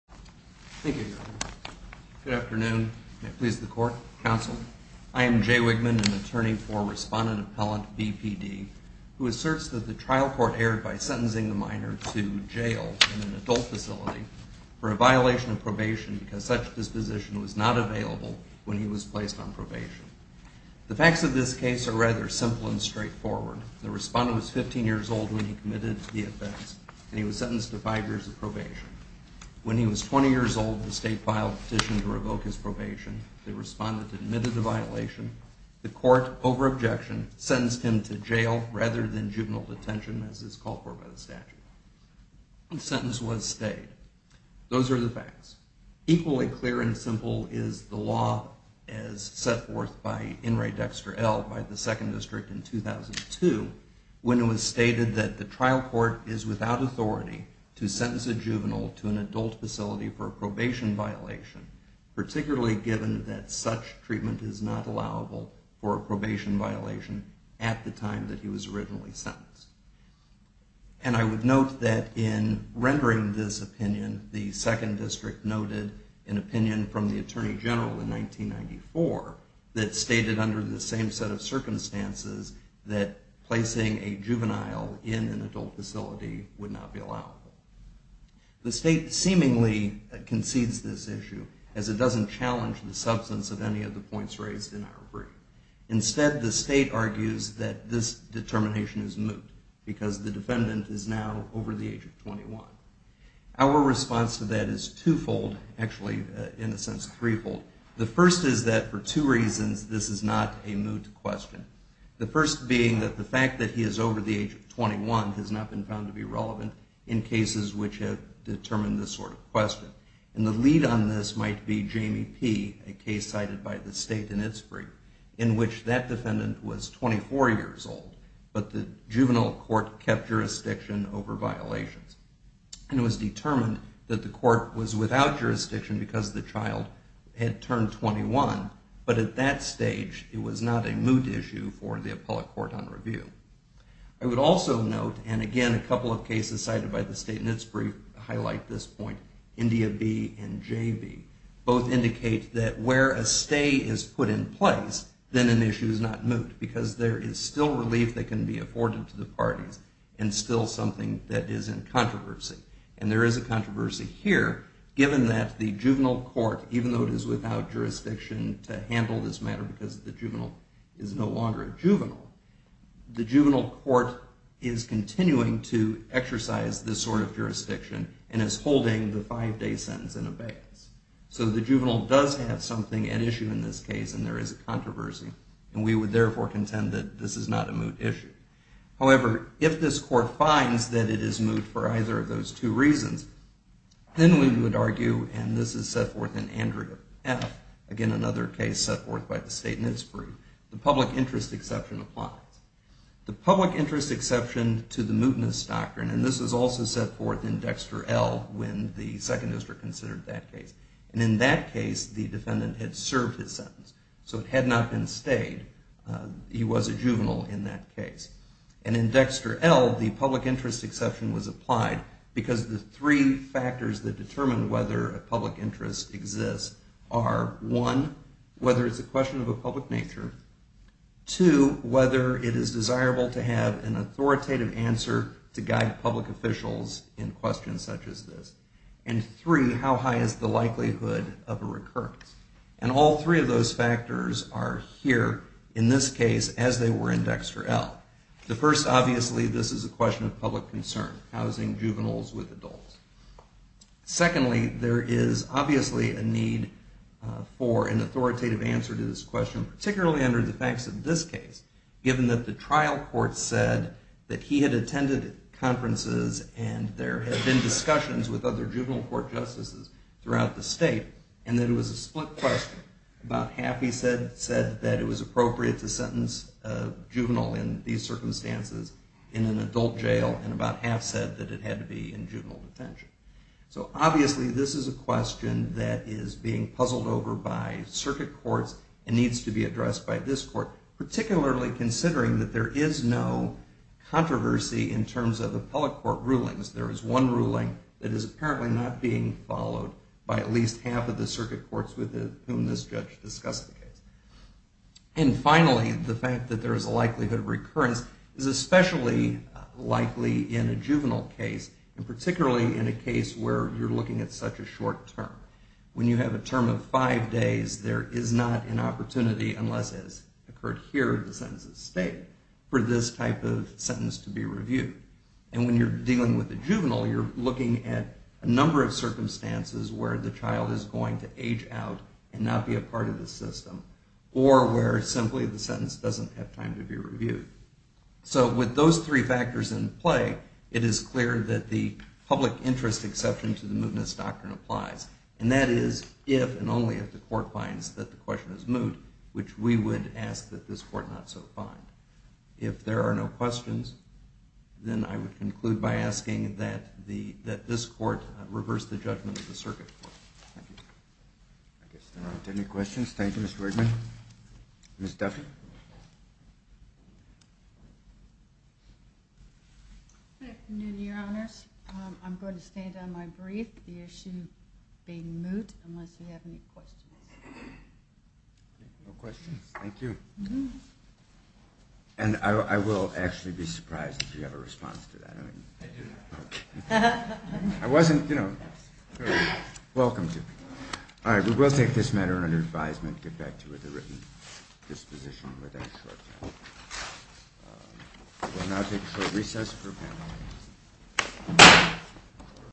Thank you, Your Honor. Good afternoon. May it please the Court, Counsel. I am Jay Wigman, an attorney for Respondent-Appellant B.P.D., who asserts that the trial court erred by sentencing the minor to jail in an adult facility for a violation of probation because such disposition was not available when he was placed on probation. The facts of this case are rather simple and straightforward. The Respondent was 15 years old when he committed the offense, and he was sentenced to five years of probation. When he was 20 years old, the State filed a petition to revoke his probation. The Respondent admitted the violation. The Court, over objection, sentenced him to jail rather than juvenile detention as is called for by the statute. The sentence was stayed. Those are the facts. Equally clear and simple is the law as set forth by In re Dexter L. by the Second District in 2002 when it was stated that the trial court is without authority to sentence a juvenile to an adult facility for a probation violation, particularly given that such treatment is not allowable for a probation violation at the time that he was originally sentenced. And I would note that in rendering this opinion, the Second District noted an opinion from the Attorney General in 1994 that stated under the same set of circumstances that placing a juvenile in an adult facility would not be allowable. The State seemingly concedes this issue as it doesn't challenge the substance of any of the points raised in our brief. Instead, the State argues that this determination is moot because the defendant is now over the age of 21. The first is that for two reasons, this is not a moot question. The first being that the fact that he is over the age of 21 has not been found to be relevant in cases which have determined this sort of question. And the lead on this might be Jamie P, a case cited by the State in its brief, in which that defendant was 24 years old, but the juvenile court kept jurisdiction over violations. And it was determined that the court was without jurisdiction because the child had turned 21. But at that stage, it was not a moot issue for the appellate court on review. I would also note, and again, a couple of cases cited by the State in its brief highlight this point, India B and J B both indicate that where a stay is put in place, then an issue is not moot because there is still relief that can be afforded to the parties and still something that is in controversy. And there is a controversy here, given that the juvenile court, even though it is without jurisdiction to handle this matter because the juvenile is no longer a juvenile, the juvenile court is continuing to exercise this sort of jurisdiction and is holding the five-day sentence in abeyance. So the juvenile does have something at issue in this case, and there is controversy. And we would therefore contend that this is not a moot issue. However, if this court finds that it is moot for either of those two reasons, then we would argue, and this is set forth in Andrea F, again, another case set forth by the State in its brief, the public interest exception applies. The public interest exception to the mootness doctrine, and this was also set forth in Dexter L when the Second District considered that case. And in that case, the defendant had served his sentence. So it had not been stayed. He was a juvenile in that case. And in Dexter L, the public interest exception was applied because the three factors that determine whether a public interest exists are, one, whether it's a question of a public nature, two, whether it is desirable to have an authoritative answer to guide public officials in questions such as this, and three, how high is the likelihood of a recurrence. And all three of those factors are here in this case as they were in Dexter L. The first, obviously, this is a question of public concern, housing juveniles with adults. Secondly, there is obviously a need for an authoritative answer to this question, particularly under the facts of this case, given that the trial court said that he had attended conferences and there had been discussions with other juvenile court justices throughout the state, and that it was a split question. About half, he said, said that it was appropriate to sentence a juvenile in these circumstances in an adult jail, and about half said that it had to be in juvenile detention. So obviously, this is a question that is being puzzled over by circuit courts and needs to be addressed by this court, particularly considering that there is no controversy in terms of appellate court rulings. There is one ruling that is with whom this judge discussed the case. And finally, the fact that there is a likelihood of recurrence is especially likely in a juvenile case, and particularly in a case where you're looking at such a short term. When you have a term of five days, there is not an opportunity, unless it has occurred here in the sentence at stake, for this type of sentence to be reviewed. And when you're dealing with a juvenile, you're looking at a number of circumstances where the child is going to age out and not be a part of the system, or where simply the sentence doesn't have time to be reviewed. So with those three factors in play, it is clear that the public interest exception to the mootness doctrine applies. And that is if and only if the court finds that the question is moot, which we would ask that this court not so find. If there are no questions, then I would conclude by asking that this court reverse the judgment of the circuit. I guess there aren't any questions. Thank you, Mr. Wigman. Ms. Duffy? Good afternoon, Your Honors. I'm going to stand on my brief, the issue being moot, unless you have any questions. No questions. Thank you. And I will actually be surprised if you have a response to that. I didn't. Okay. I wasn't, you know, welcome to me. All right, we will take this matter under advisement, get back to it with a written disposition within a short time. We'll now take a short recess for a panel.